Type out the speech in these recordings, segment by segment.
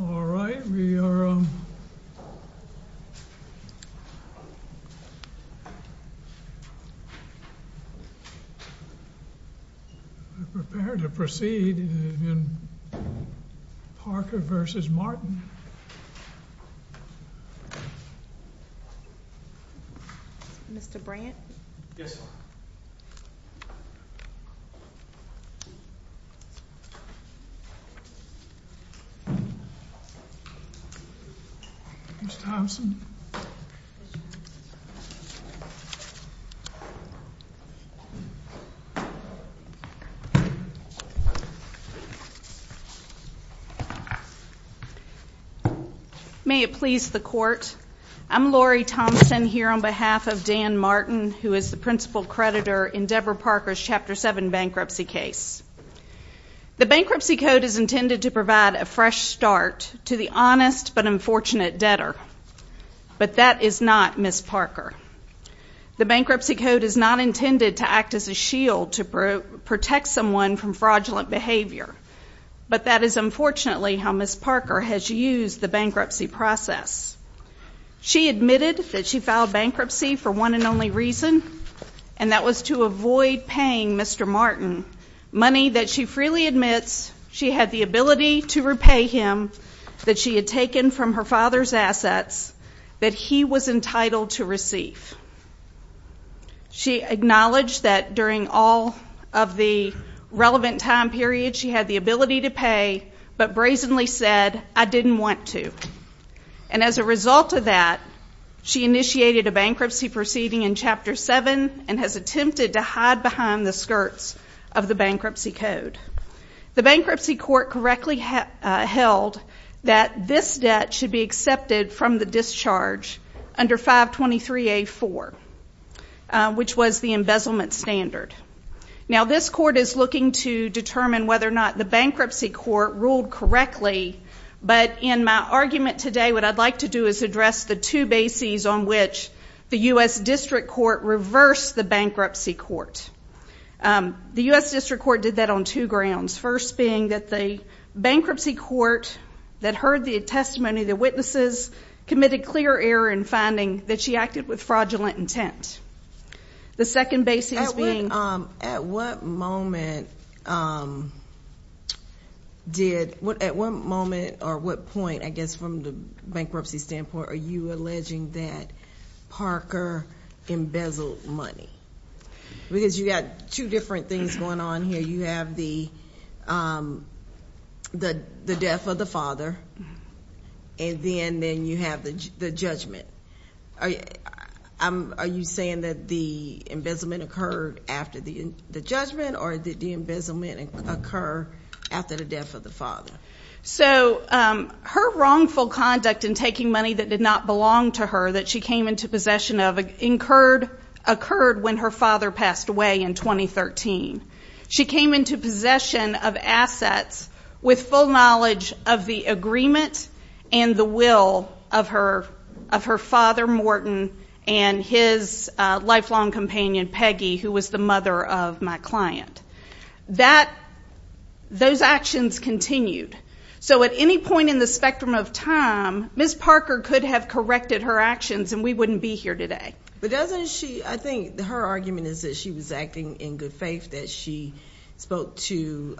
All right, we are prepared to proceed in Parker v. Martin. Mr. Brandt? Yes. Mr. Thompson? May it please the Court, I'm Lori Thompson here on behalf of Dan Martin, who is the principal creditor in Deborah Parker's Chapter 7 bankruptcy case. The bankruptcy code is intended to provide a fresh start to the honest but unfortunate debtor, but that is not Ms. Parker. The bankruptcy code is not intended to act as a shield to protect someone from fraudulent behavior, but that is unfortunately how Ms. Parker has used the bankruptcy process. She admitted that she filed bankruptcy for one and only reason, and that was to avoid paying Mr. Martin money that she freely admits she had the ability to repay him that she had taken from her father's assets that he was entitled to receive. She acknowledged that during all of the relevant time period she had the ability to pay, but brazenly said, I didn't want to. And as a result of that, she initiated a bankruptcy proceeding in Chapter 7 and has attempted to hide behind the skirts of the bankruptcy code. The bankruptcy court correctly held that this debt should be accepted from the discharge under 523A.4, which was the embezzlement standard. Now this court is looking to determine whether or not the bankruptcy court ruled correctly, but in my argument today, what I'd like to do is address the two bases on which the U.S. District Court did that on two grounds. First being that the bankruptcy court that heard the testimony of the witnesses committed clear error in finding that she acted with fraudulent intent. The second base is being— At what moment did—at what moment or what point, I guess, from the bankruptcy standpoint, were you alleging that Parker embezzled money? Because you got two different things going on here. You have the death of the father, and then you have the judgment. Are you saying that the embezzlement occurred after the judgment, or did the embezzlement occur after the death of the father? So her wrongful conduct in taking money that did not belong to her, that she came into possession of, occurred when her father passed away in 2013. She came into possession of assets with full knowledge of the agreement and the will of her father, Morton, and his lifelong companion, Peggy, who was the mother of my client. That—those actions continued. So at any point in the spectrum of time, Ms. Parker could have corrected her actions, and we wouldn't be here today. But doesn't she—I think her argument is that she was acting in good faith, that she spoke to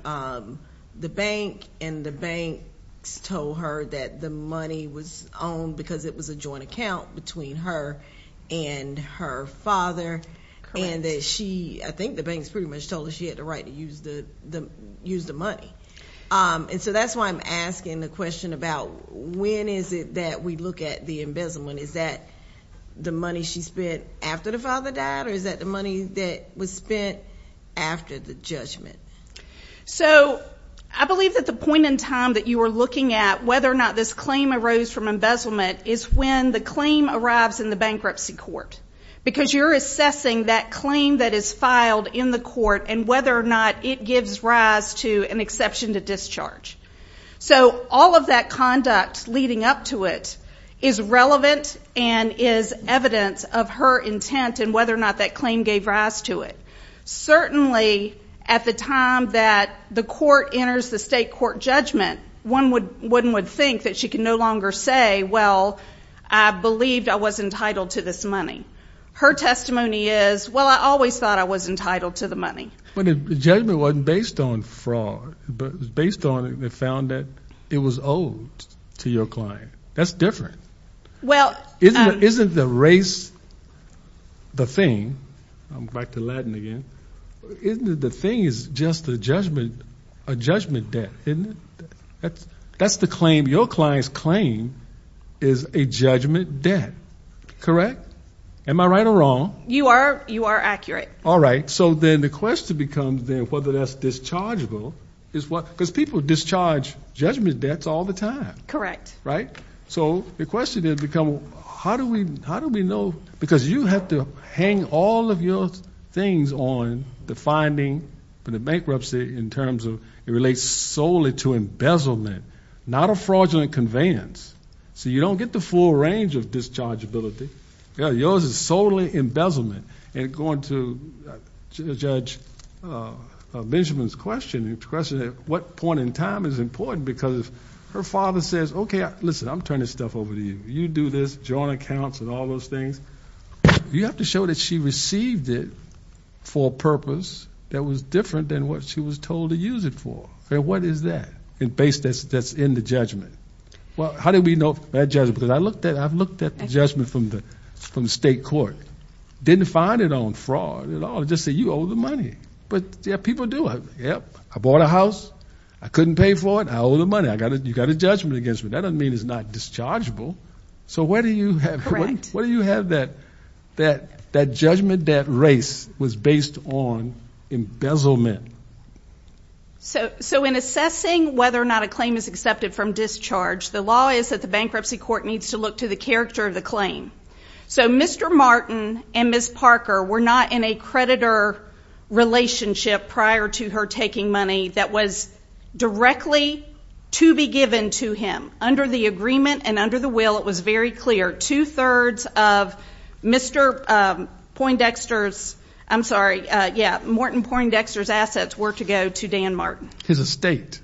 the bank, and the banks told her that the money was owned because it was a joint account between her and her father. Correct. And that she—I think the banks pretty much told her she had the right to use the money. And so that's why I'm asking the question about when is it that we look at the embezzlement. Is that the money she spent after the father died, or is that the money that was spent after the judgment? So I believe that the point in time that you are looking at whether or not this claim arose from embezzlement is when the claim arrives in the bankruptcy court. Because you're assessing that claim that is filed in the court and whether or not it gives rise to an exception to discharge. So all of that conduct leading up to it is relevant and is evidence of her intent and whether or not that claim gave rise to it. Certainly, at the time that the court enters the state court judgment, one would think that she can no longer say, well, I believed I was entitled to this money. Her testimony is, well, I always thought I was entitled to the money. But the judgment wasn't based on fraud. It was based on—they found that it was owed to your client. That's different. Well— Isn't the race the thing—I'm back to Latin again—isn't it the thing is just a judgment debt, isn't it? That's the claim—your client's claim is a judgment debt, correct? Am I right or wrong? You are. You are accurate. All right. So then the question becomes then whether that's dischargeable is what—because people discharge judgment debts all the time. Correct. Right? So the question then becomes how do we know—because you have to hang all of your things on the finding for the bankruptcy in terms of it relates solely to embezzlement, not a fraudulent conveyance. So you don't get the full range of dischargeability. Yours is solely embezzlement. And going to Judge Benjamin's question, the question of what point in time is important because her father says, okay, listen, I'm turning stuff over to you. You do this, joint accounts and all those things. You have to show that she received it for a purpose that was different than what she was told to use it for. What is that? A base that's in the judgment. Well, how do we know that judgment? Because I've looked at the judgment from the state court. Didn't find it on fraud at all. Just say you owe the money. But people do. Yep, I bought a house. I couldn't pay for it. I owe the money. You've got a judgment against me. That doesn't mean it's not dischargeable. So where do you have— Right. Where do you have that judgment that race was based on embezzlement? So in assessing whether or not a claim is accepted from discharge, the law is that the bankruptcy court needs to look to the character of the claim. So Mr. Martin and Ms. Parker were not in a creditor relationship prior to her taking money that was directly to be given to him. Under the agreement and under the will, it was very clear, two-thirds of Mr. Poindexter's—I'm sorry, yeah, Morton Poindexter's assets were to go to Dan Martin. His estate.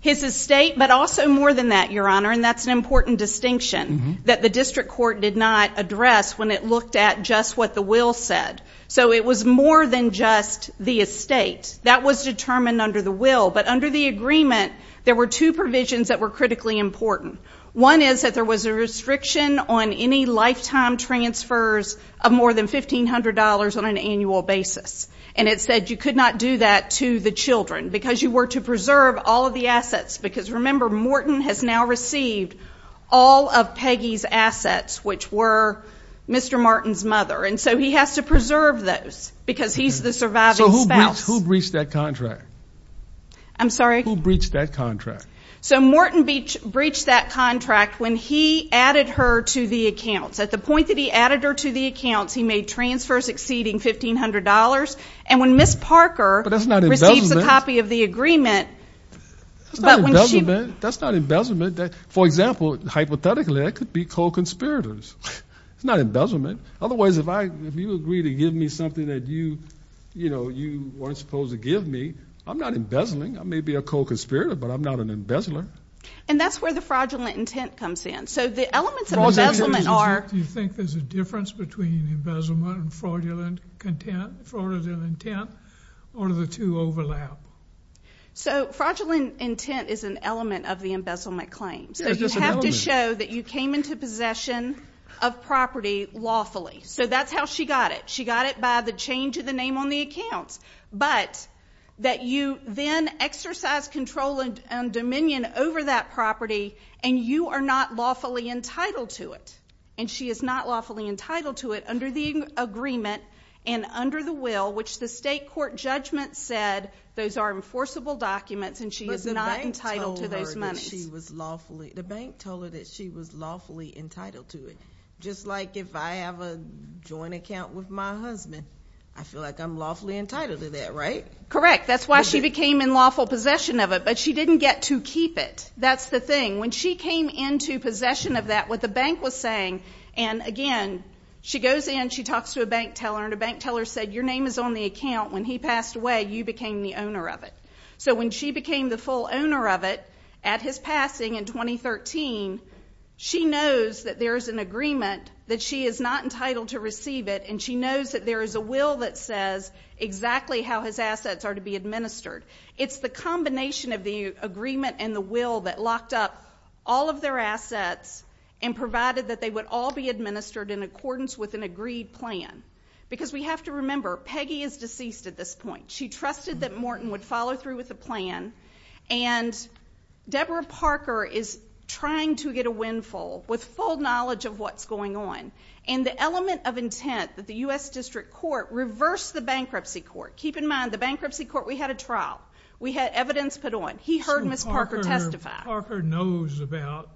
His estate, but also more than that, Your Honor, and that's an important distinction that the district court did not address when it looked at just what the will said. So it was more than just the estate. That was determined under the will. But under the agreement, there were two provisions that were critically important. One is that there was a restriction on any lifetime transfers of more than $1,500 on an annual basis. And it said you could not do that to the children because you were to preserve all of the assets. Because remember, Morton has now received all of Peggy's assets, which were Mr. Martin's mother. And so he has to preserve those because he's the surviving spouse. So who breached that contract? I'm sorry? Who breached that contract? So Morton breached that contract when he added her to the accounts. At the point that he added her to the accounts, he made transfers exceeding $1,500. And when Ms. Parker— But that's not embezzlement. —receives a copy of the agreement— That's not embezzlement. That's not embezzlement. For example, hypothetically, that could be co-conspirators. It's not embezzlement. Otherwise, if you agree to give me something that you weren't supposed to give me, I'm not embezzling. I may be a co-conspirator, but I'm not an embezzler. And that's where the fraudulent intent comes in. So the elements of embezzlement are— Do you think there's a difference between embezzlement and fraudulent intent, or do the two overlap? So fraudulent intent is an element of the embezzlement claims. Yeah, just an element. Fraudulent intent is to show that you came into possession of property lawfully. So that's how she got it. She got it by the change of the name on the accounts. But that you then exercise control and dominion over that property, and you are not lawfully entitled to it. And she is not lawfully entitled to it under the agreement and under the will, which the state court judgment said those are enforceable documents, and she is not entitled to those The bank told her that she was lawfully entitled to it. Just like if I have a joint account with my husband, I feel like I'm lawfully entitled to that, right? Correct. That's why she became in lawful possession of it, but she didn't get to keep it. That's the thing. When she came into possession of that, what the bank was saying—and again, she goes in, she talks to a bank teller, and the bank teller said, your name is on the account. When he passed away, you became the owner of it. So when she became the full owner of it, at his passing in 2013, she knows that there is an agreement, that she is not entitled to receive it, and she knows that there is a will that says exactly how his assets are to be administered. It's the combination of the agreement and the will that locked up all of their assets and provided that they would all be administered in accordance with an agreed plan. Because we have to remember, Peggy is deceased at this point. She trusted that Morton would follow through with the plan, and Deborah Parker is trying to get a windfall with full knowledge of what's going on, and the element of intent that the U.S. District Court reversed the Bankruptcy Court—keep in mind, the Bankruptcy Court, we had a trial. We had evidence put on. He heard Ms. Parker testify. So Parker knows about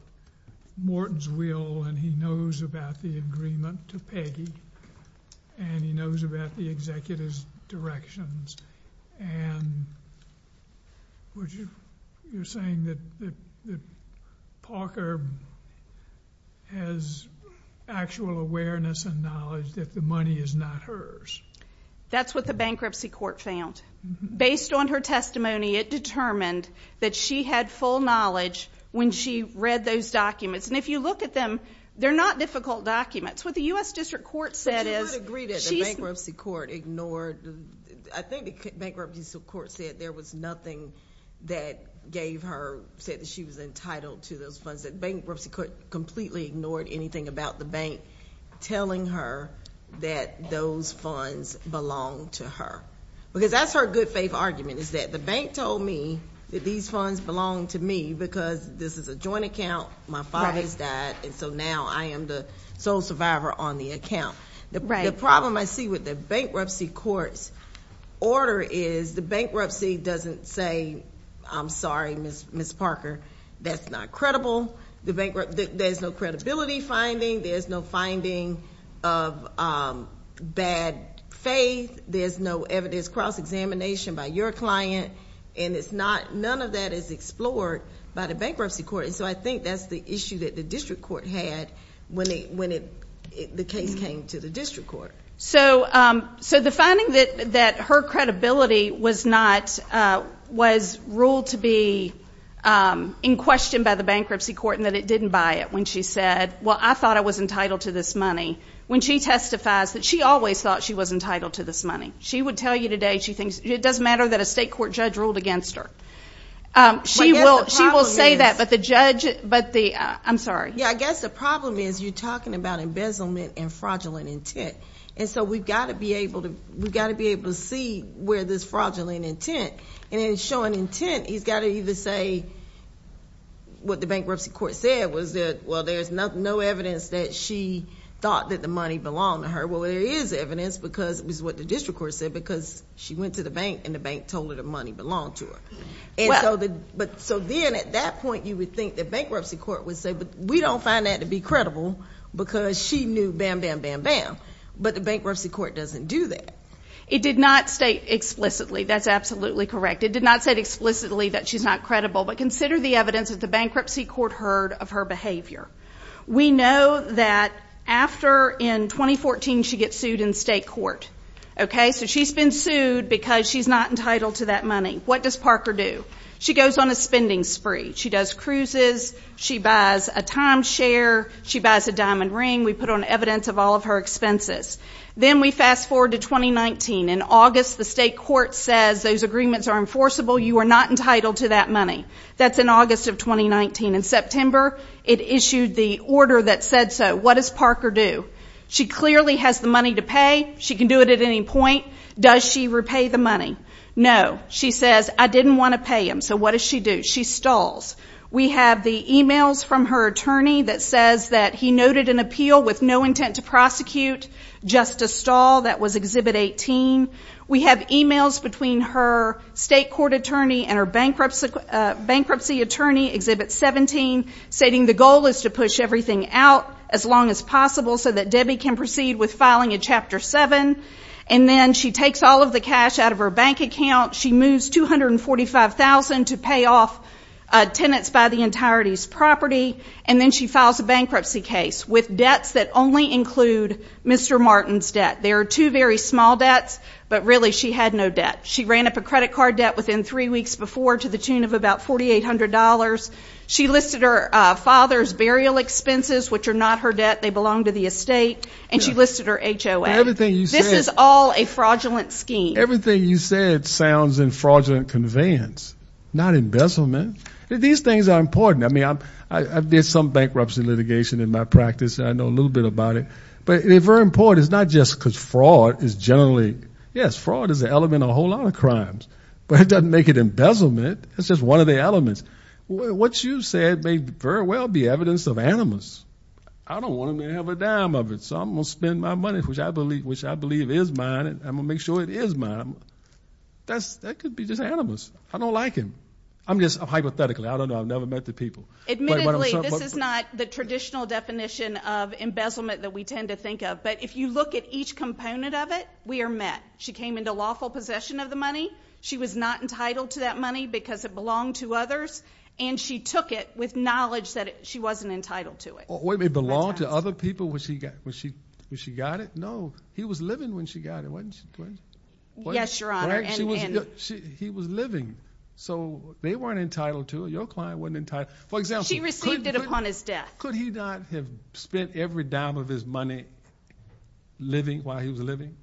Morton's will, and he knows about the agreement to Peggy, and he knows about the executive's directions, and you're saying that Parker has actual awareness and knowledge that the money is not hers. That's what the Bankruptcy Court found. Based on her testimony, it determined that she had full knowledge when she read those documents. And if you look at them, they're not difficult documents. What the U.S. District Court said is— But you would agree that the Bankruptcy Court ignored—I think the Bankruptcy Court said there was nothing that gave her—said that she was entitled to those funds. The Bankruptcy Court completely ignored anything about the bank telling her that those funds belonged to her. Because that's her good faith argument, is that the bank told me that these funds belonged to me because this is a joint account. My father has died, and so now I am the sole survivor on the account. The problem I see with the Bankruptcy Court's order is the bankruptcy doesn't say, I'm sorry, Ms. Parker, that's not credible. There's no credibility finding. There's no finding of bad faith. There's no evidence. There's no cross-examination by your client, and it's not—none of that is explored by the Bankruptcy Court. And so I think that's the issue that the District Court had when the case came to the District Court. So the finding that her credibility was not—was ruled to be in question by the Bankruptcy Court and that it didn't buy it when she said, well, I thought I was entitled to this money, when she testifies that she always thought she was entitled to this money. She would tell you today she thinks—it doesn't matter that a state court judge ruled against her. She will say that, but the judge—I'm sorry. Yeah, I guess the problem is you're talking about embezzlement and fraudulent intent. And so we've got to be able to see where this fraudulent intent—and in showing intent, he's got to either say what the Bankruptcy Court said was that, well, there's no evidence that she thought that the money belonged to her. Or, well, there is evidence because it was what the District Court said because she went to the bank and the bank told her the money belonged to her. But so then at that point, you would think the Bankruptcy Court would say, but we don't find that to be credible because she knew, bam, bam, bam, bam. But the Bankruptcy Court doesn't do that. It did not state explicitly. That's absolutely correct. It did not say explicitly that she's not credible. But consider the evidence that the Bankruptcy Court heard of her behavior. We know that after, in 2014, she gets sued in state court. So she's been sued because she's not entitled to that money. What does Parker do? She goes on a spending spree. She does cruises. She buys a timeshare. She buys a diamond ring. We put on evidence of all of her expenses. Then we fast forward to 2019. In August, the state court says those agreements are enforceable. You are not entitled to that money. That's in August of 2019. In September, it issued the order that said so. What does Parker do? She clearly has the money to pay. She can do it at any point. Does she repay the money? No. She says, I didn't want to pay him. So what does she do? She stalls. We have the emails from her attorney that says that he noted an appeal with no intent to prosecute, just a stall. That was Exhibit 18. We have emails between her state court attorney and her bankruptcy attorney, Exhibit 17, stating the goal is to push everything out as long as possible so that Debbie can proceed with filing a Chapter 7. And then she takes all of the cash out of her bank account. She moves $245,000 to pay off tenants by the entirety's property. And then she files a bankruptcy case with debts that only include Mr. Martin's debt. There are two very small debts, but really she had no debt. She ran up a credit card debt within three weeks before to the tune of about $4,800. She listed her father's burial expenses, which are not her debt. They belong to the estate. And she listed her HOA. This is all a fraudulent scheme. Everything you said sounds in fraudulent conveyance, not embezzlement. These things are important. I mean, I did some bankruptcy litigation in my practice. I know a little bit about it. But they're very important. It's not just because fraud is generally, yes, fraud is an element in a whole lot of crimes, but it doesn't make it embezzlement. It's just one of the elements. What you said may very well be evidence of animus. I don't want to have a dime of it, so I'm going to spend my money, which I believe is mine, and I'm going to make sure it is mine. That could be just animus. I don't like him. I'm just hypothetically, I don't know, I've never met the people. Admittedly, this is not the traditional definition of embezzlement that we tend to think of. But if you look at each component of it, we are met. She came into lawful possession of the money. She was not entitled to that money because it belonged to others. And she took it with knowledge that she wasn't entitled to it. Wait, it belonged to other people when she got it? No. He was living when she got it, wasn't he? Yes, Your Honor. He was living. So they weren't entitled to it. Your client wasn't entitled. For example, could he not have spent every dime of his money living while he was living?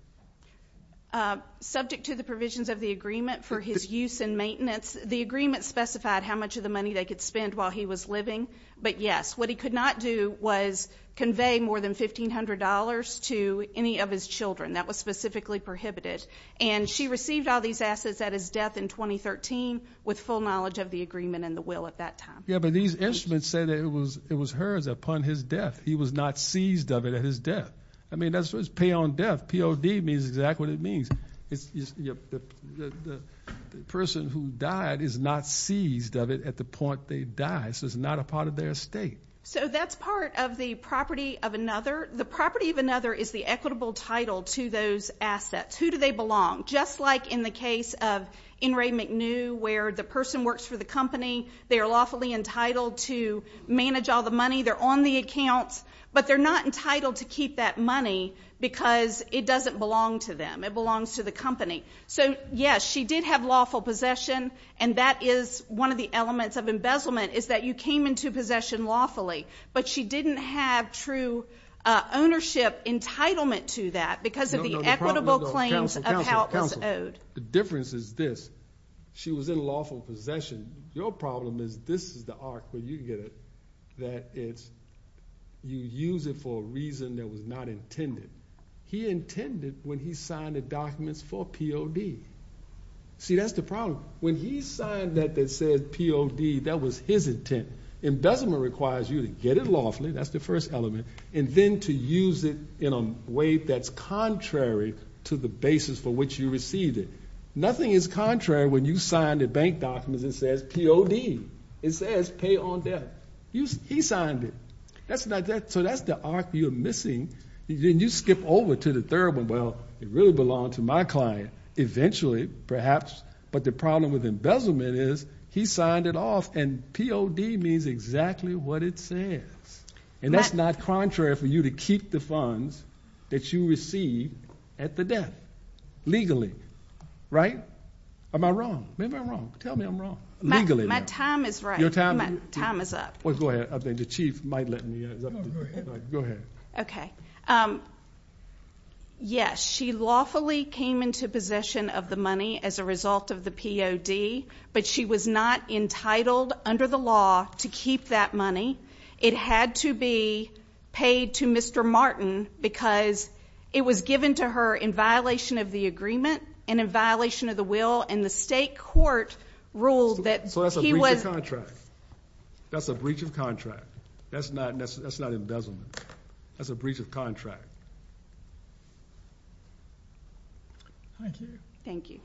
Subject to the provisions of the agreement for his use and maintenance, the agreement specified how much of the money they could spend while he was living. But yes, what he could not do was convey more than $1,500 to any of his children. That was specifically prohibited. And she received all these assets at his death in 2013 with full knowledge of the agreement and the will at that time. Yeah, but these instruments say that it was hers upon his death. He was not seized of it at his death. I mean, that's what's pay on death. POD means exactly what it means. It's the person who died is not seized of it at the point they died. So it's not a part of their estate. So that's part of the property of another. The property of another is the equitable title to those assets. Who do they belong? Just like in the case of In re McNew, where the person works for the company. They are lawfully entitled to manage all the money. They're on the accounts. But they're not entitled to keep that money, because it doesn't belong to them. It belongs to the company. So yes, she did have lawful possession. And that is one of the elements of embezzlement, is that you came into possession lawfully. But she didn't have true ownership entitlement to that, because of the equitable claims of how it was owed. The difference is this. She was in lawful possession. Your problem is, this is the arc, but you can get it, that you use it for a reason that was not intended. He intended, when he signed the documents, for POD. See, that's the problem. When he signed that that said POD, that was his intent. Embezzlement requires you to get it lawfully. That's the first element. And then to use it in a way that's contrary to the basis for which you received it. Nothing is contrary when you sign the bank documents that says POD. It says pay on debt. He signed it. So that's the arc you're missing. Then you skip over to the third one. Well, it really belonged to my client, eventually, perhaps. But the problem with embezzlement is, he signed it off. And POD means exactly what it says. And that's not contrary for you to keep the funds that you received at the debt, legally. Right? Am I wrong? Maybe I'm wrong. Tell me I'm wrong. Legally, though. My time is right. Your time is? Time is up. Well, go ahead. I think the chief might let me. No, go ahead. Go ahead. OK. Yes, she lawfully came into possession of the money as a result of the POD. But she was not entitled, under the law, to keep that money. It had to be paid to Mr. Martin, because it was given to her in violation of the agreement and in violation of the will. And the state court ruled that he was. So that's a breach of contract. That's a breach of contract. That's not embezzlement. That's a breach of contract. Thank you. Thank you.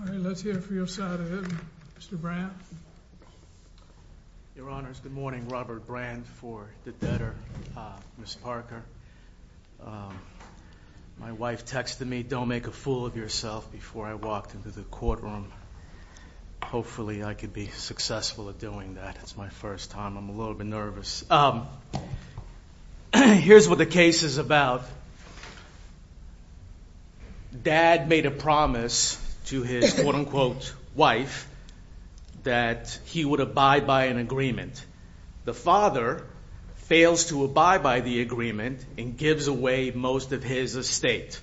All right, let's hear it for your side of the room. Mr. Brandt. Your Honors, good morning. Robert Brandt for the debtor, Ms. Parker. My wife texted me, don't make a fool of yourself before I walked into the courtroom. Hopefully, I could be successful at doing that. It's my first time. I'm a little bit nervous. Here's what the case is about. Dad made a promise to his, quote unquote, wife that he would abide by an agreement. The father fails to abide by the agreement and gives away most of his estate.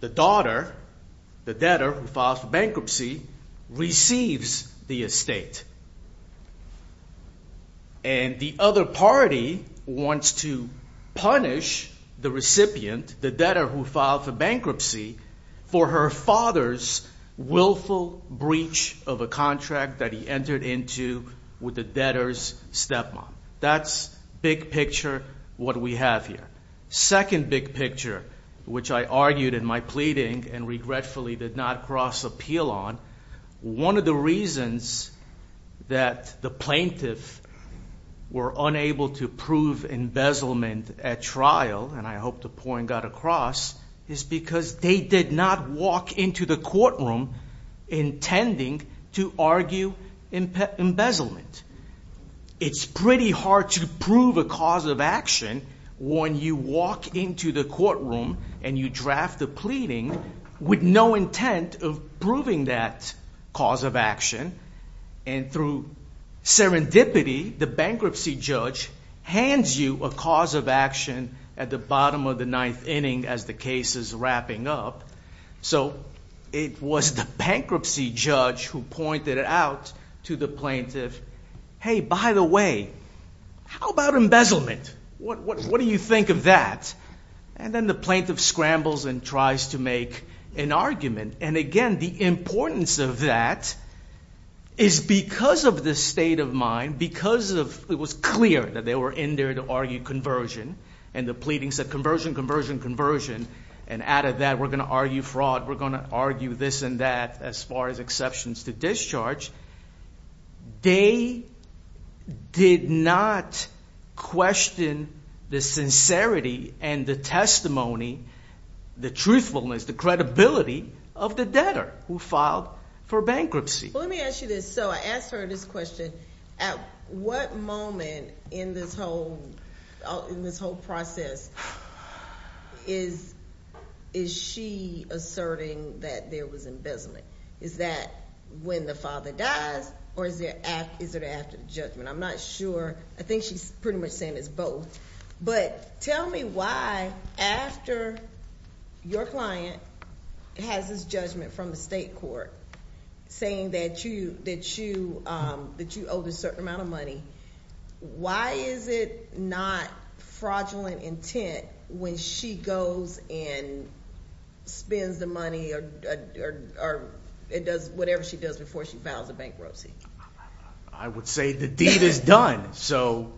The daughter, the debtor who filed for bankruptcy, receives the estate. And the other party wants to punish the recipient, the debtor who filed for bankruptcy, for her father's willful breach of a contract that he entered into with the debtor's stepmom. That's big picture what we have here. Second big picture, which I argued in my pleading and regretfully did not cross appeal on, one of the reasons that the plaintiff were unable to prove embezzlement at trial, and I hope the point got across, is because they did not walk into the courtroom intending to argue embezzlement. It's pretty hard to prove a cause of action when you walk into the courtroom and you draft the pleading with no intent of proving that cause of action. And through serendipity, the bankruptcy judge hands you a cause of action at the bottom of the ninth inning as the case is wrapping up. So it was the bankruptcy judge who pointed it out to the plaintiff, hey, by the way, how about embezzlement? What do you think of that? And then the plaintiff scrambles and tries to make an argument. And again, the importance of that is because of the state of mind, because it was clear that they were in there to argue conversion. And the pleading said, conversion, conversion, conversion. And out of that, we're going to argue fraud. We're going to argue this and that as far as exceptions to discharge. They did not question the sincerity and the testimony, the truthfulness, the credibility of the debtor who filed for bankruptcy. Well, let me ask you this. So I asked her this question. At what moment in this whole process is she asserting that there was embezzlement? Is that when the father dies, or is it after the judgment? I'm not sure. I think she's pretty much saying it's both. But tell me why, after your client has this judgment from the state court saying that you owed a certain amount of money, why is it not fraudulent intent when she goes and spends the money or does whatever she does before she files a bankruptcy? I would say the deed is done. So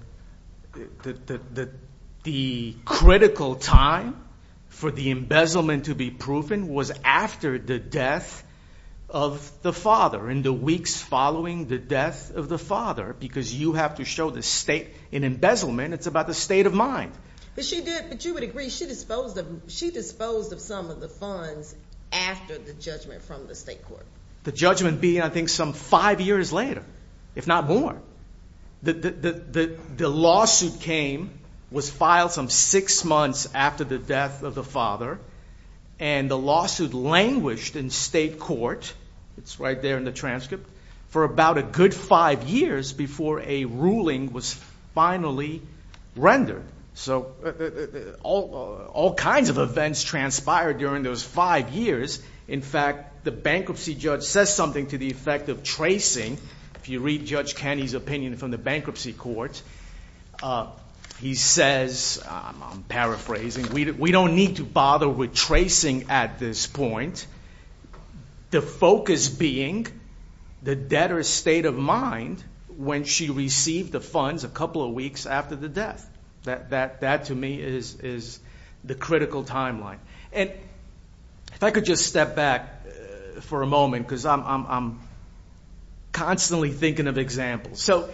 the critical time for the embezzlement to be proven was after the death of the father, in the weeks following the death of the father, because you have to show the state in embezzlement. It's about the state of mind. But you would agree she disposed of some of the funds after the judgment from the state court. The judgment being, I think, some five years later, if not more. The lawsuit was filed some six months after the death of the father. And the lawsuit languished in state court, it's right there in the transcript, for about a good five years before a ruling was finally rendered. So all kinds of events transpired during those five years. In fact, the bankruptcy judge says something to the effect of tracing. If you read Judge Kenney's opinion from the bankruptcy court, he says, I'm paraphrasing, we don't need to bother with tracing at this point. The focus being the debtor's state of mind when she received the funds a couple of weeks after the death. That, to me, is the critical timeline. And if I could just step back for a moment, because I'm constantly thinking of examples. So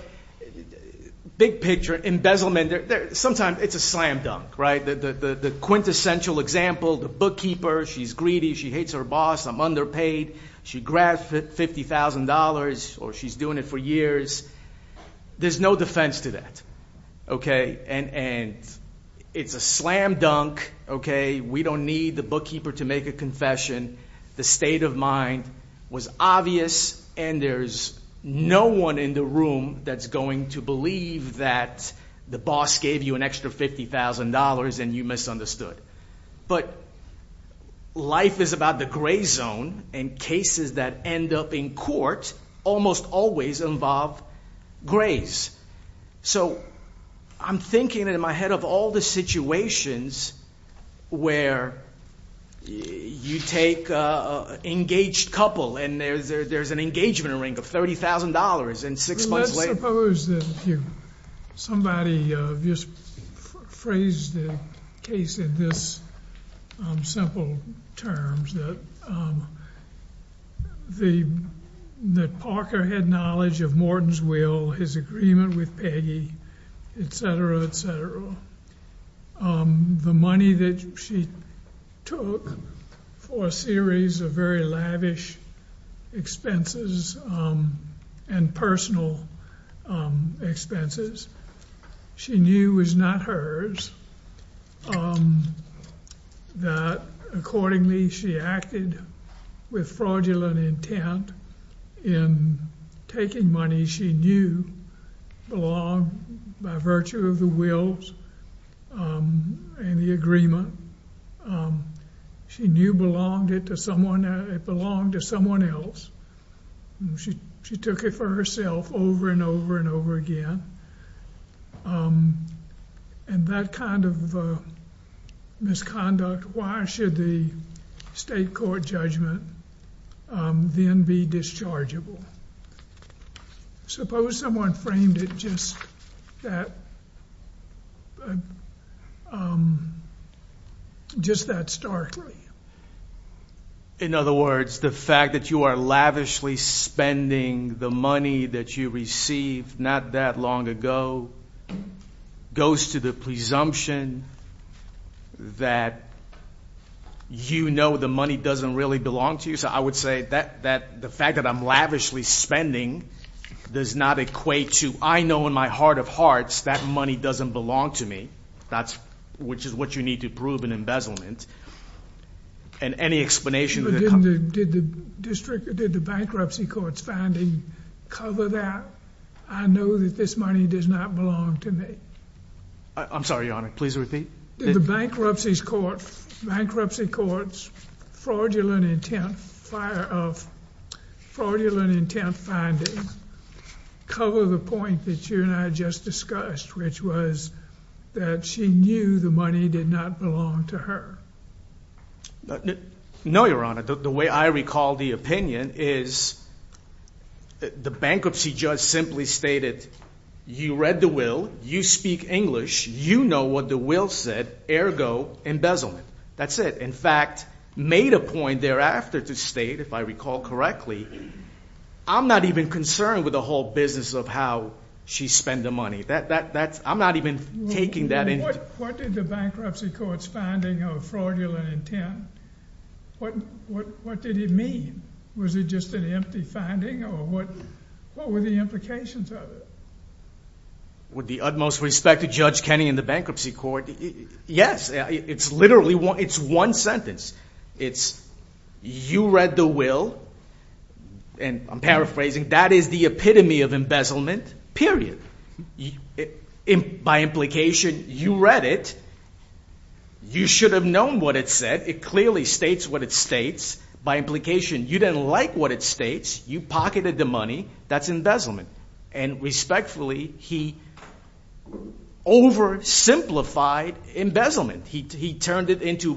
big picture, embezzlement, sometimes it's a slam dunk. The quintessential example, the bookkeeper, she's greedy, she hates her boss, I'm underpaid, she grabs $50,000, or she's doing it for years. There's no defense to that. And it's a slam dunk. We don't need the bookkeeper to make a confession. The state of mind was obvious, and there's no one in the room that's going to believe that the boss gave you an extra $50,000 and you misunderstood. But life is about the gray zone, and cases that end up in court almost always involve grays. So I'm thinking in my head of all the situations where you take an engaged couple, and there's an engagement ring of $30,000, and six months later. Let's suppose that somebody just phrased the case in this simple terms, that Parker had knowledge of Morton's will, his agreement with Peggy, et cetera, et cetera. The money that she took for a series of very lavish expenses and personal expenses she knew was not hers. That accordingly, she acted with fraudulent intent in taking money she knew belonged by virtue of the wills and the agreement. She knew it belonged to someone else. She took it for herself over and over and over again. And that kind of misconduct, why should the state court judgment then be dischargeable? Suppose someone framed it just that starkly. In other words, the fact that you are lavishly spending the money that you received not that long ago goes to the presumption that you know the money doesn't really belong to you. So I would say that the fact that I'm lavishly spending does not equate to, I know in my heart of hearts that money doesn't belong to me, which is what you need to prove an embezzlement. And any explanation of the company. Did the bankruptcy court's finding cover that? I know that this money does not belong to me. I'm sorry, Your Honor. Please repeat. Did the bankruptcy court's fraudulent intent finding cover the point that you and I just discussed, which was that she knew the money did not belong to her? No, Your Honor. The way I recall the opinion is the bankruptcy judge simply stated, you read the will, you speak English, you know what the will said, ergo embezzlement. That's it. In fact, made a point thereafter to state, if I recall correctly, I'm not even concerned with the whole business of how she spent the money. I'm not even taking that in. What did the bankruptcy court's finding of fraudulent intent, what did it mean? Was it just an empty finding, or what were the implications of it? With the utmost respect to Judge Kenney in the bankruptcy court, yes, it's literally one sentence. It's, you read the will, and I'm paraphrasing, that is the epitome of embezzlement, period. By implication, you read it. You should have known what it said. It clearly states what it states. By implication, you didn't like what it states. You pocketed the money. That's embezzlement. And respectfully, he oversimplified embezzlement. He turned it into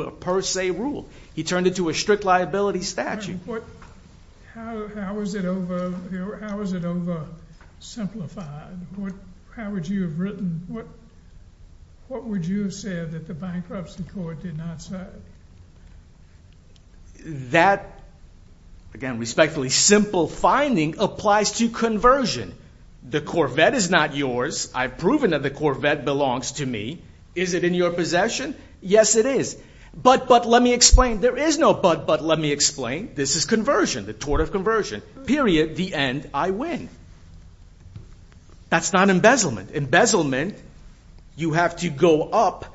a per se rule. He turned it to a strict liability statute. How was it oversimplified? How would you have written? What would you have said that the bankruptcy court did not turn? That, again respectfully, simple finding applies to conversion. The Corvette is not yours. I've proven that the Corvette belongs to me. Is it in your possession? Yes, it is. But, but, let me explain. There is no but, but, let me explain. This is conversion, the tort of conversion, period. The end, I win. That's not embezzlement. Embezzlement, you have to go up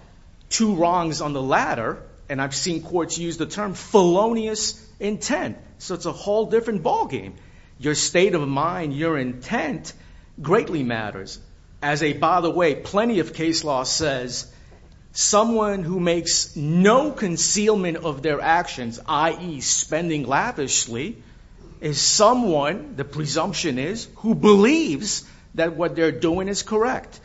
two wrongs on the ladder. And I've seen courts use the term felonious intent. So it's a whole different ballgame. Your state of mind, your intent, greatly matters. As a, by the way, plenty of case law says someone who makes no concealment of their actions, i.e. spending lavishly, is someone, the presumption is, who believes that what they're doing is correct.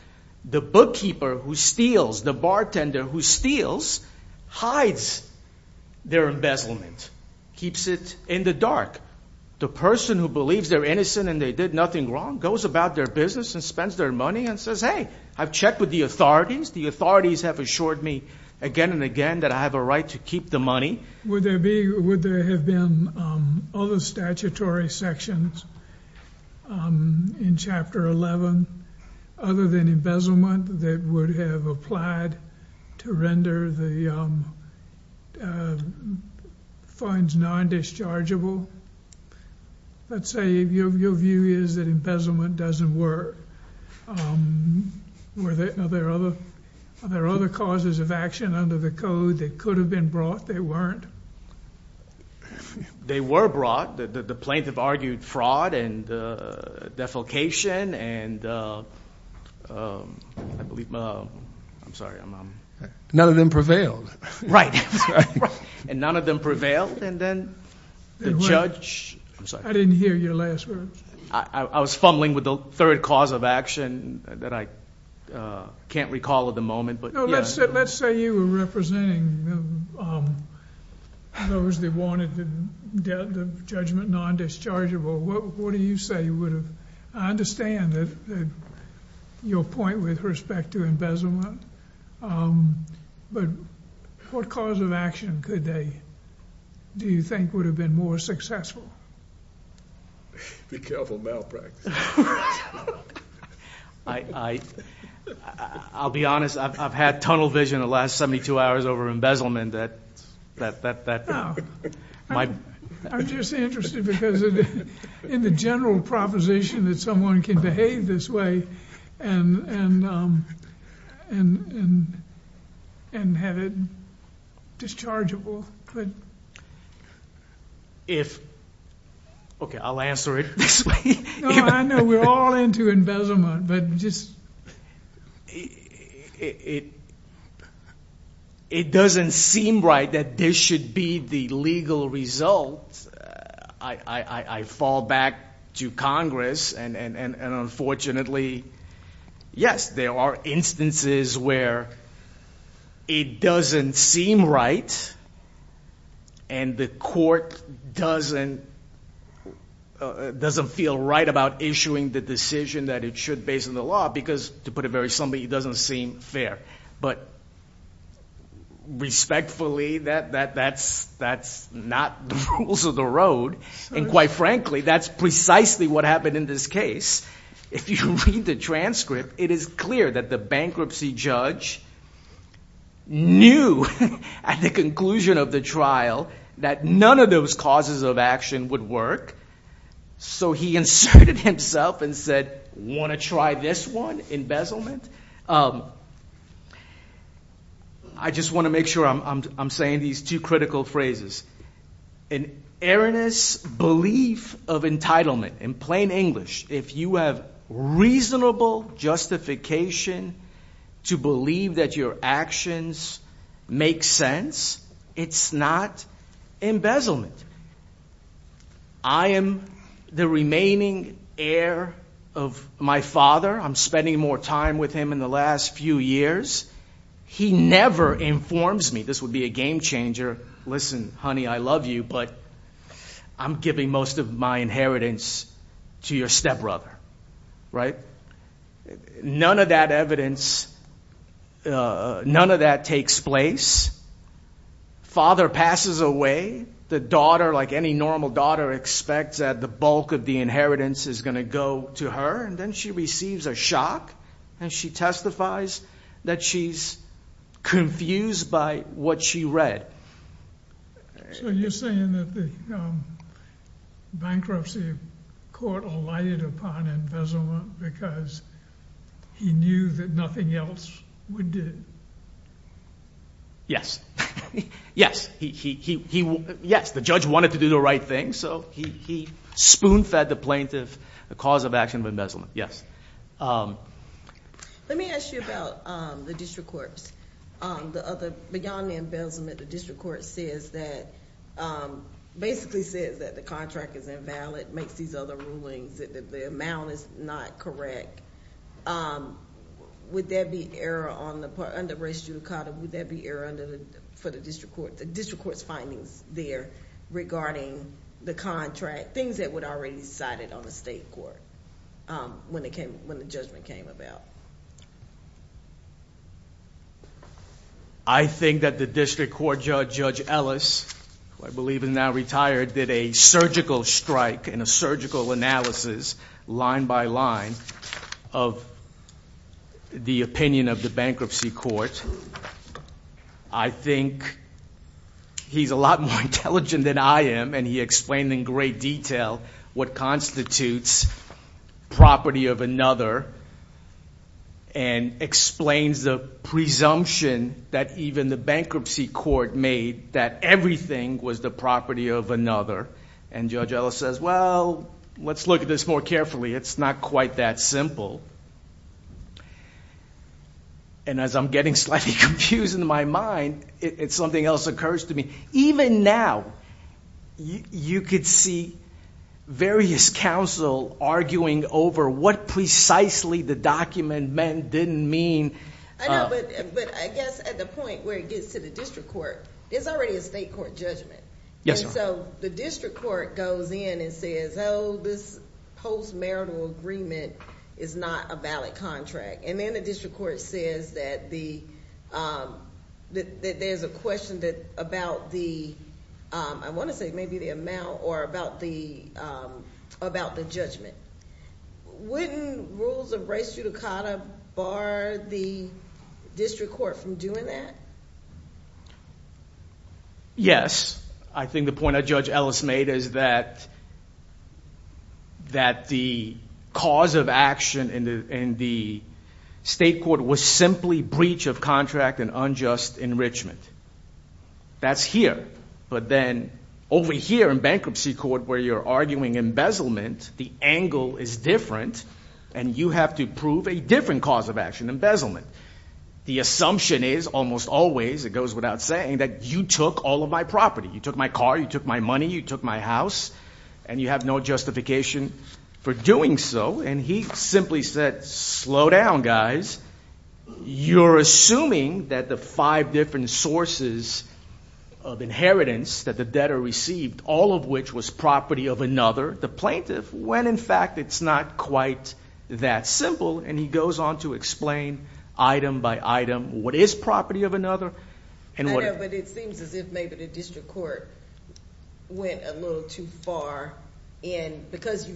The bookkeeper who steals, the bartender who steals, hides their embezzlement, keeps it in the dark. The person who believes they're innocent and they did nothing wrong goes about their business and spends their money and says, hey, I've checked with the authorities. The authorities have assured me again and again that I have a right to keep the money. Would there be, would there have been other statutory sections in Chapter 11 other than embezzlement that would have applied to render the funds non-dischargeable? Let's say your view is that embezzlement doesn't work. Were there other causes of action under the code that could have been brought, they weren't? They were brought. The plaintiff argued fraud and defecation and I believe, I'm sorry, I'm, I'm. None of them prevailed. Right. Right. And none of them prevailed. And then the judge. I'm sorry. I didn't hear your last word. I was fumbling with the third cause of action that I can't recall at the moment, but yeah. Let's say you were representing those that wanted the judgment non-dischargeable. What do you say would have, I understand that your point with respect to embezzlement, but what cause of action could they, do you think would have been more successful? Be careful of malpractice. I, I, I'll be honest. I've had tunnel vision the last 72 hours over embezzlement that, that, that, that might. I'm just interested because in the general proposition that someone can behave this way and, and, and, and, and have it dischargeable. But if, okay, I'll answer it this way. I know we're all into embezzlement, but just. It, it, it, it doesn't seem right that this should be the legal result. I, I, I, I fall back to Congress and, and, and, and unfortunately, yes, there are instances where it doesn't seem right and the court doesn't, doesn't feel right about issuing the decision that it should based on the law, because to put it very simply, it doesn't seem fair, but respectfully that, that, that's, that's not the rules of the road. And quite frankly, that's precisely what happened in this case. If you read the transcript, it is clear that the bankruptcy judge knew at the conclusion of the trial that none of those causes of action would work. So he inserted himself and said, want to try this one, embezzlement? I just want to make sure I'm, I'm, I'm saying these two critical phrases. An erroneous belief of entitlement, in plain English, if you have reasonable justification to believe that your actions make sense, it's not embezzlement. I am the remaining heir of my father. I'm spending more time with him in the last few years. He never informs me. This would be a game changer. Listen, honey, I love you, but I'm giving most of my inheritance to your stepbrother, right? None of that evidence, none of that takes place. Father passes away. The daughter, like any normal daughter, expects that the bulk of the inheritance is going to go to her. And then she receives a shock. And she testifies that she's confused by what she read. So you're saying that the bankruptcy court relied upon embezzlement because he knew that nothing else would do it? Yes, he, he, he, yes, the judge wanted to do the right thing. So he, he spoon fed the plaintiff the cause of action of embezzlement, yes. Let me ask you about the district courts. The other, beyond the embezzlement, the district court says that, basically says that the contract is invalid, makes these other rulings, that the amount is not correct. Would there be error on the part, under race judicata, would there be error under the, for the district court, the district court's findings there regarding the contract, things that would already be cited on the state court when it came, when the judgment came about? I think that the district court judge, Judge Ellis, who I believe is now retired, did a surgical strike and a surgical analysis, line by line, of the opinion of the bankruptcy court. I think he's a lot more intelligent than I am, and he explained in great detail what constitutes property of another, and explains the presumption that even the bankruptcy court made, that everything was the property of another. And Judge Ellis says, well, let's look at this more carefully. It's not quite that simple. And as I'm getting slightly confused in my mind, it's something else occurs to me. Even now, you could see various counsel arguing over what precisely the document meant, didn't mean. But I guess at the point where it gets to the district court, there's already a state court judgment. So the district court goes in and says, oh, this post-marital agreement is not a valid contract. And then the district court says that there's a question about the, I want to say maybe the amount, or about the judgment. Wouldn't rules of race judicata bar the district court from doing that? Yes. I think the point that Judge Ellis made is that the cause of action in the state court was simply breach of contract and unjust enrichment. That's here. But then over here in bankruptcy court where you're arguing embezzlement, the angle is different, and you have to prove a different cause of action, embezzlement. The assumption is, almost always, it goes without saying, that you took all of my property. You took my car, you took my money, you took my house, and you have no justification for doing so. And he simply said, slow down, guys. You're assuming that the five different sources of inheritance that the debtor received, all of which was property of another, the plaintiff, when in fact it's not quite that simple. And he goes on to explain item by item what is property of another and what is not. I know, but it seems as if maybe the district court went a little too far, because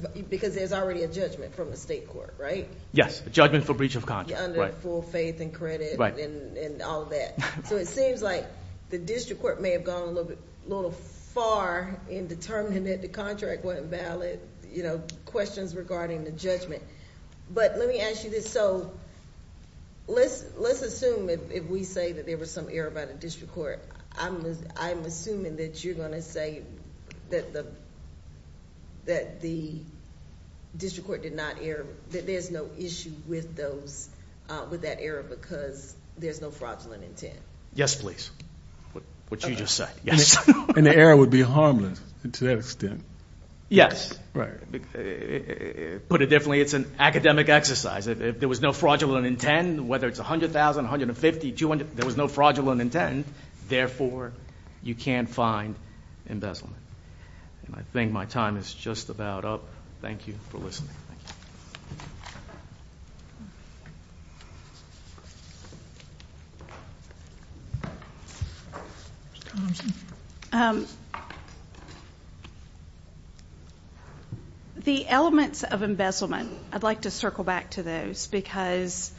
there's already a judgment from the state court, right? Yes, the judgment for breach of contract. Under full faith and credit and all of that. So it seems like the district court may have gone a little far in determining that the contract wasn't valid, questions regarding the judgment. But let me ask you this. So let's assume, if we say that there was some error by the district court, I'm assuming that you're going to say that the district court did not err, that there's no issue with that error, because there's no fraudulent intent. Yes, please. What you just said, yes. And the error would be harmless to that extent. Yes. Put it differently, it's an academic exercise. If there was no fraudulent intent, whether it's $100,000, $150,000, $200,000, there was no fraudulent intent. Therefore, you can't find embezzlement. And I think my time is just about up. Thank you for listening. The elements of embezzlement, I'd like to circle back to those, because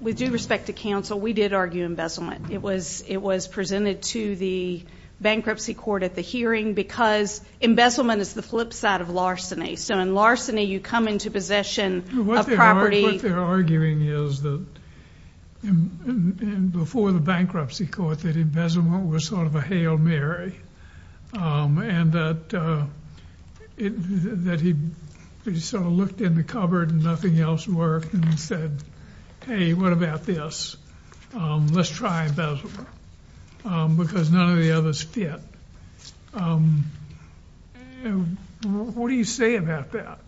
with due respect to counsel, we did argue embezzlement. It was presented to the bankruptcy court at the hearing, because embezzlement is the flip side of larceny. So in larceny, you come into possession of property. What they're arguing is that, before the bankruptcy court, that embezzlement was sort of a Hail Mary, and that he sort of looked in the cupboard and nothing else worked, and said, hey, what about this? Let's try embezzlement, because none of the others fit. What do you say about that?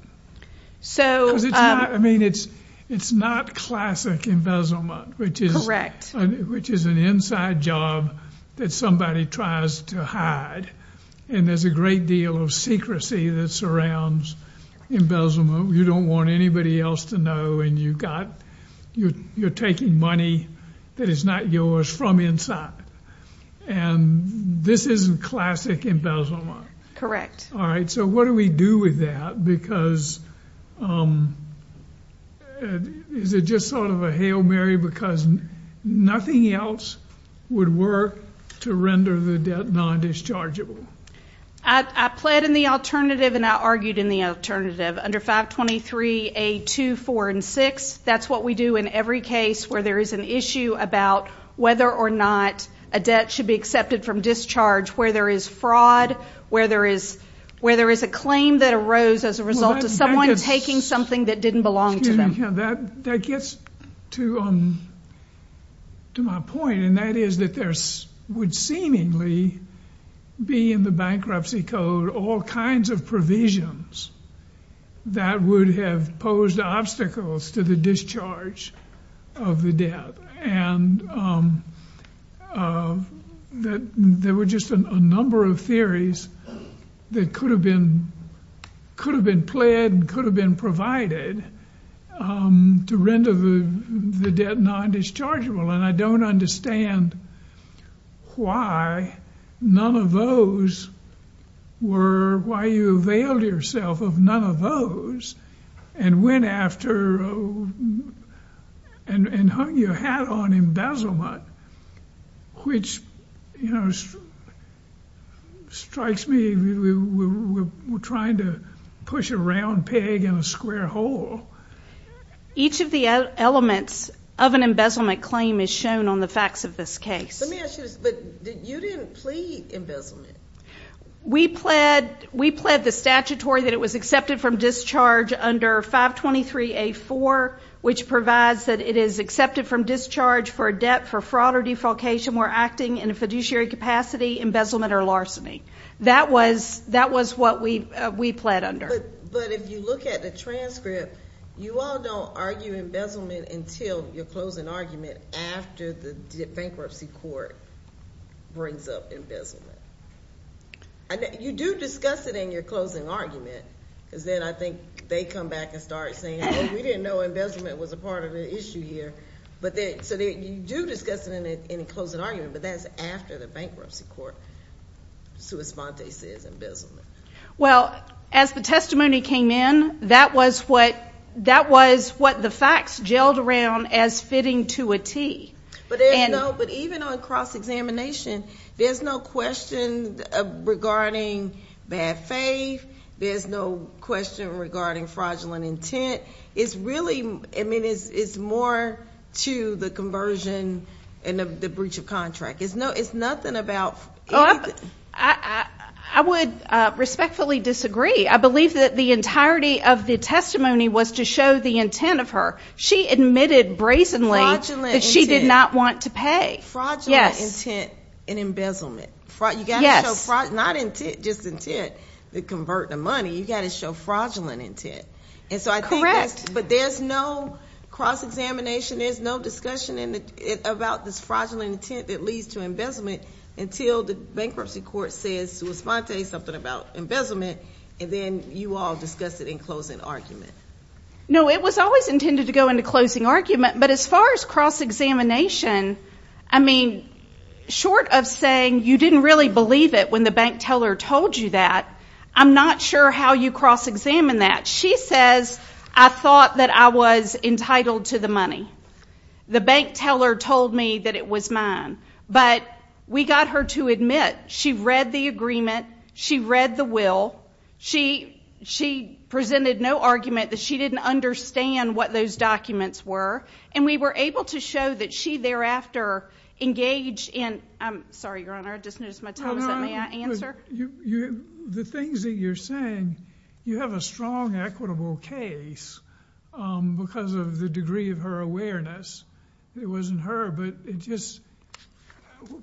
So I mean, it's not classic embezzlement, which is an inside job that somebody tries to hide. And there's a great deal of secrecy that surrounds embezzlement. You don't want anybody else to know, and you're taking money that is not yours from inside. And this isn't classic embezzlement. Correct. All right, so what do we do with that? Because is it just sort of a Hail Mary, because nothing else would work to render the debt non-dischargeable? I pled in the alternative, and I argued in the alternative. Under 523A2, 4, and 6, that's what we do in every case where there is an issue about whether or not a debt should be accepted from discharge, where there is fraud, where there is a claim that arose as a result of someone taking something that didn't belong to them. That gets to my point, and that is that there would seemingly be in the bankruptcy code all kinds of provisions that would have posed obstacles to the discharge of the debt. And there were just a number of theories that could have been pled and could have been provided to render the debt non-dischargeable. And I don't understand why none of those were why you availed yourself of none of those and went after and hung your hat on embezzlement, which strikes me as we're trying to push a round peg in a square hole. Each of the elements of an embezzlement claim is shown on the facts of this case. Let me ask you this. But you didn't plead embezzlement. We pled the statutory that it was accepted from discharge under 523A4, which provides that it is accepted from discharge for a debt for fraud or defalcation or acting in a fiduciary capacity, embezzlement or larceny. That was what we pled under. But if you look at the transcript, you all don't argue embezzlement until your closing argument after the bankruptcy court brings up embezzlement. You do discuss it in your closing argument, because then I think they come back and start saying, oh, we didn't know embezzlement was a part of the issue here. So you do discuss it in a closing argument, but that's after the bankruptcy court sui sponte says embezzlement. Well, as the testimony came in, that was what the facts gelled around as fitting to a T. But even on cross-examination, there's no question regarding bad faith. There's no question regarding fraudulent intent. It's really more to the conversion and the breach of contract. It's nothing about anything. I would respectfully disagree. I believe that the entirety of the testimony was to show the intent of her. She admitted brazenly that she did not want to pay. Fraudulent intent and embezzlement. You've got to show fraudulent, not intent, just intent, to convert the money. You've got to show fraudulent intent. Correct. But there's no cross-examination. There's no discussion about this fraudulent intent that leads to embezzlement until the bankruptcy court says sui sponte, something about embezzlement, and then you all discuss it in closing argument. No, it was always intended to go into closing argument. But as far as cross-examination, I mean, short of saying you didn't really believe it when the bank teller told you that, I'm not sure how you cross-examine that. She says, I thought that I was entitled to the money. The bank teller told me that it was mine. But we got her to admit. She read the agreement. She read the will. She presented no argument that she didn't understand what those documents were. And we were able to show that she thereafter engaged in, I'm sorry, Your Honor, I just noticed my time is up. May I answer? The things that you're saying, you have a strong equitable case because of the degree of her awareness. It wasn't her, but it just,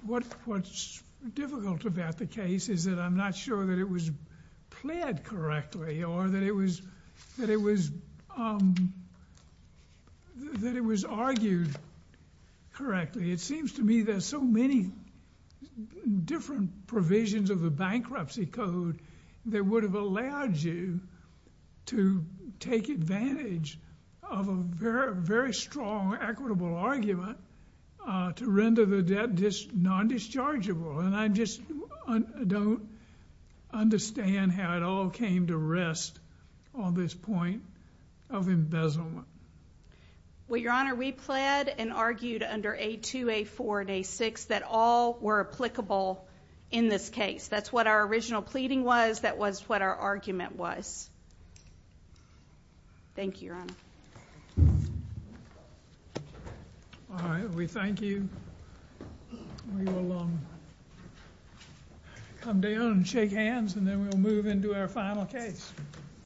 what's difficult about the case is that I'm not sure that it was pled correctly or that it was argued correctly. It seems to me there's so many different provisions of the bankruptcy code that would have allowed you to take advantage of a very strong equitable argument to render the debt non-dischargeable. And I just don't understand how it all came to rest on this point of embezzlement. Well, Your Honor, we pled and argued under A2, A4, and A6 that all were applicable in this case. That's what our original pleading was. That was what our argument was. Thank you, Your Honor. All right, we thank you. We will come down and shake hands and then we'll move into our final case.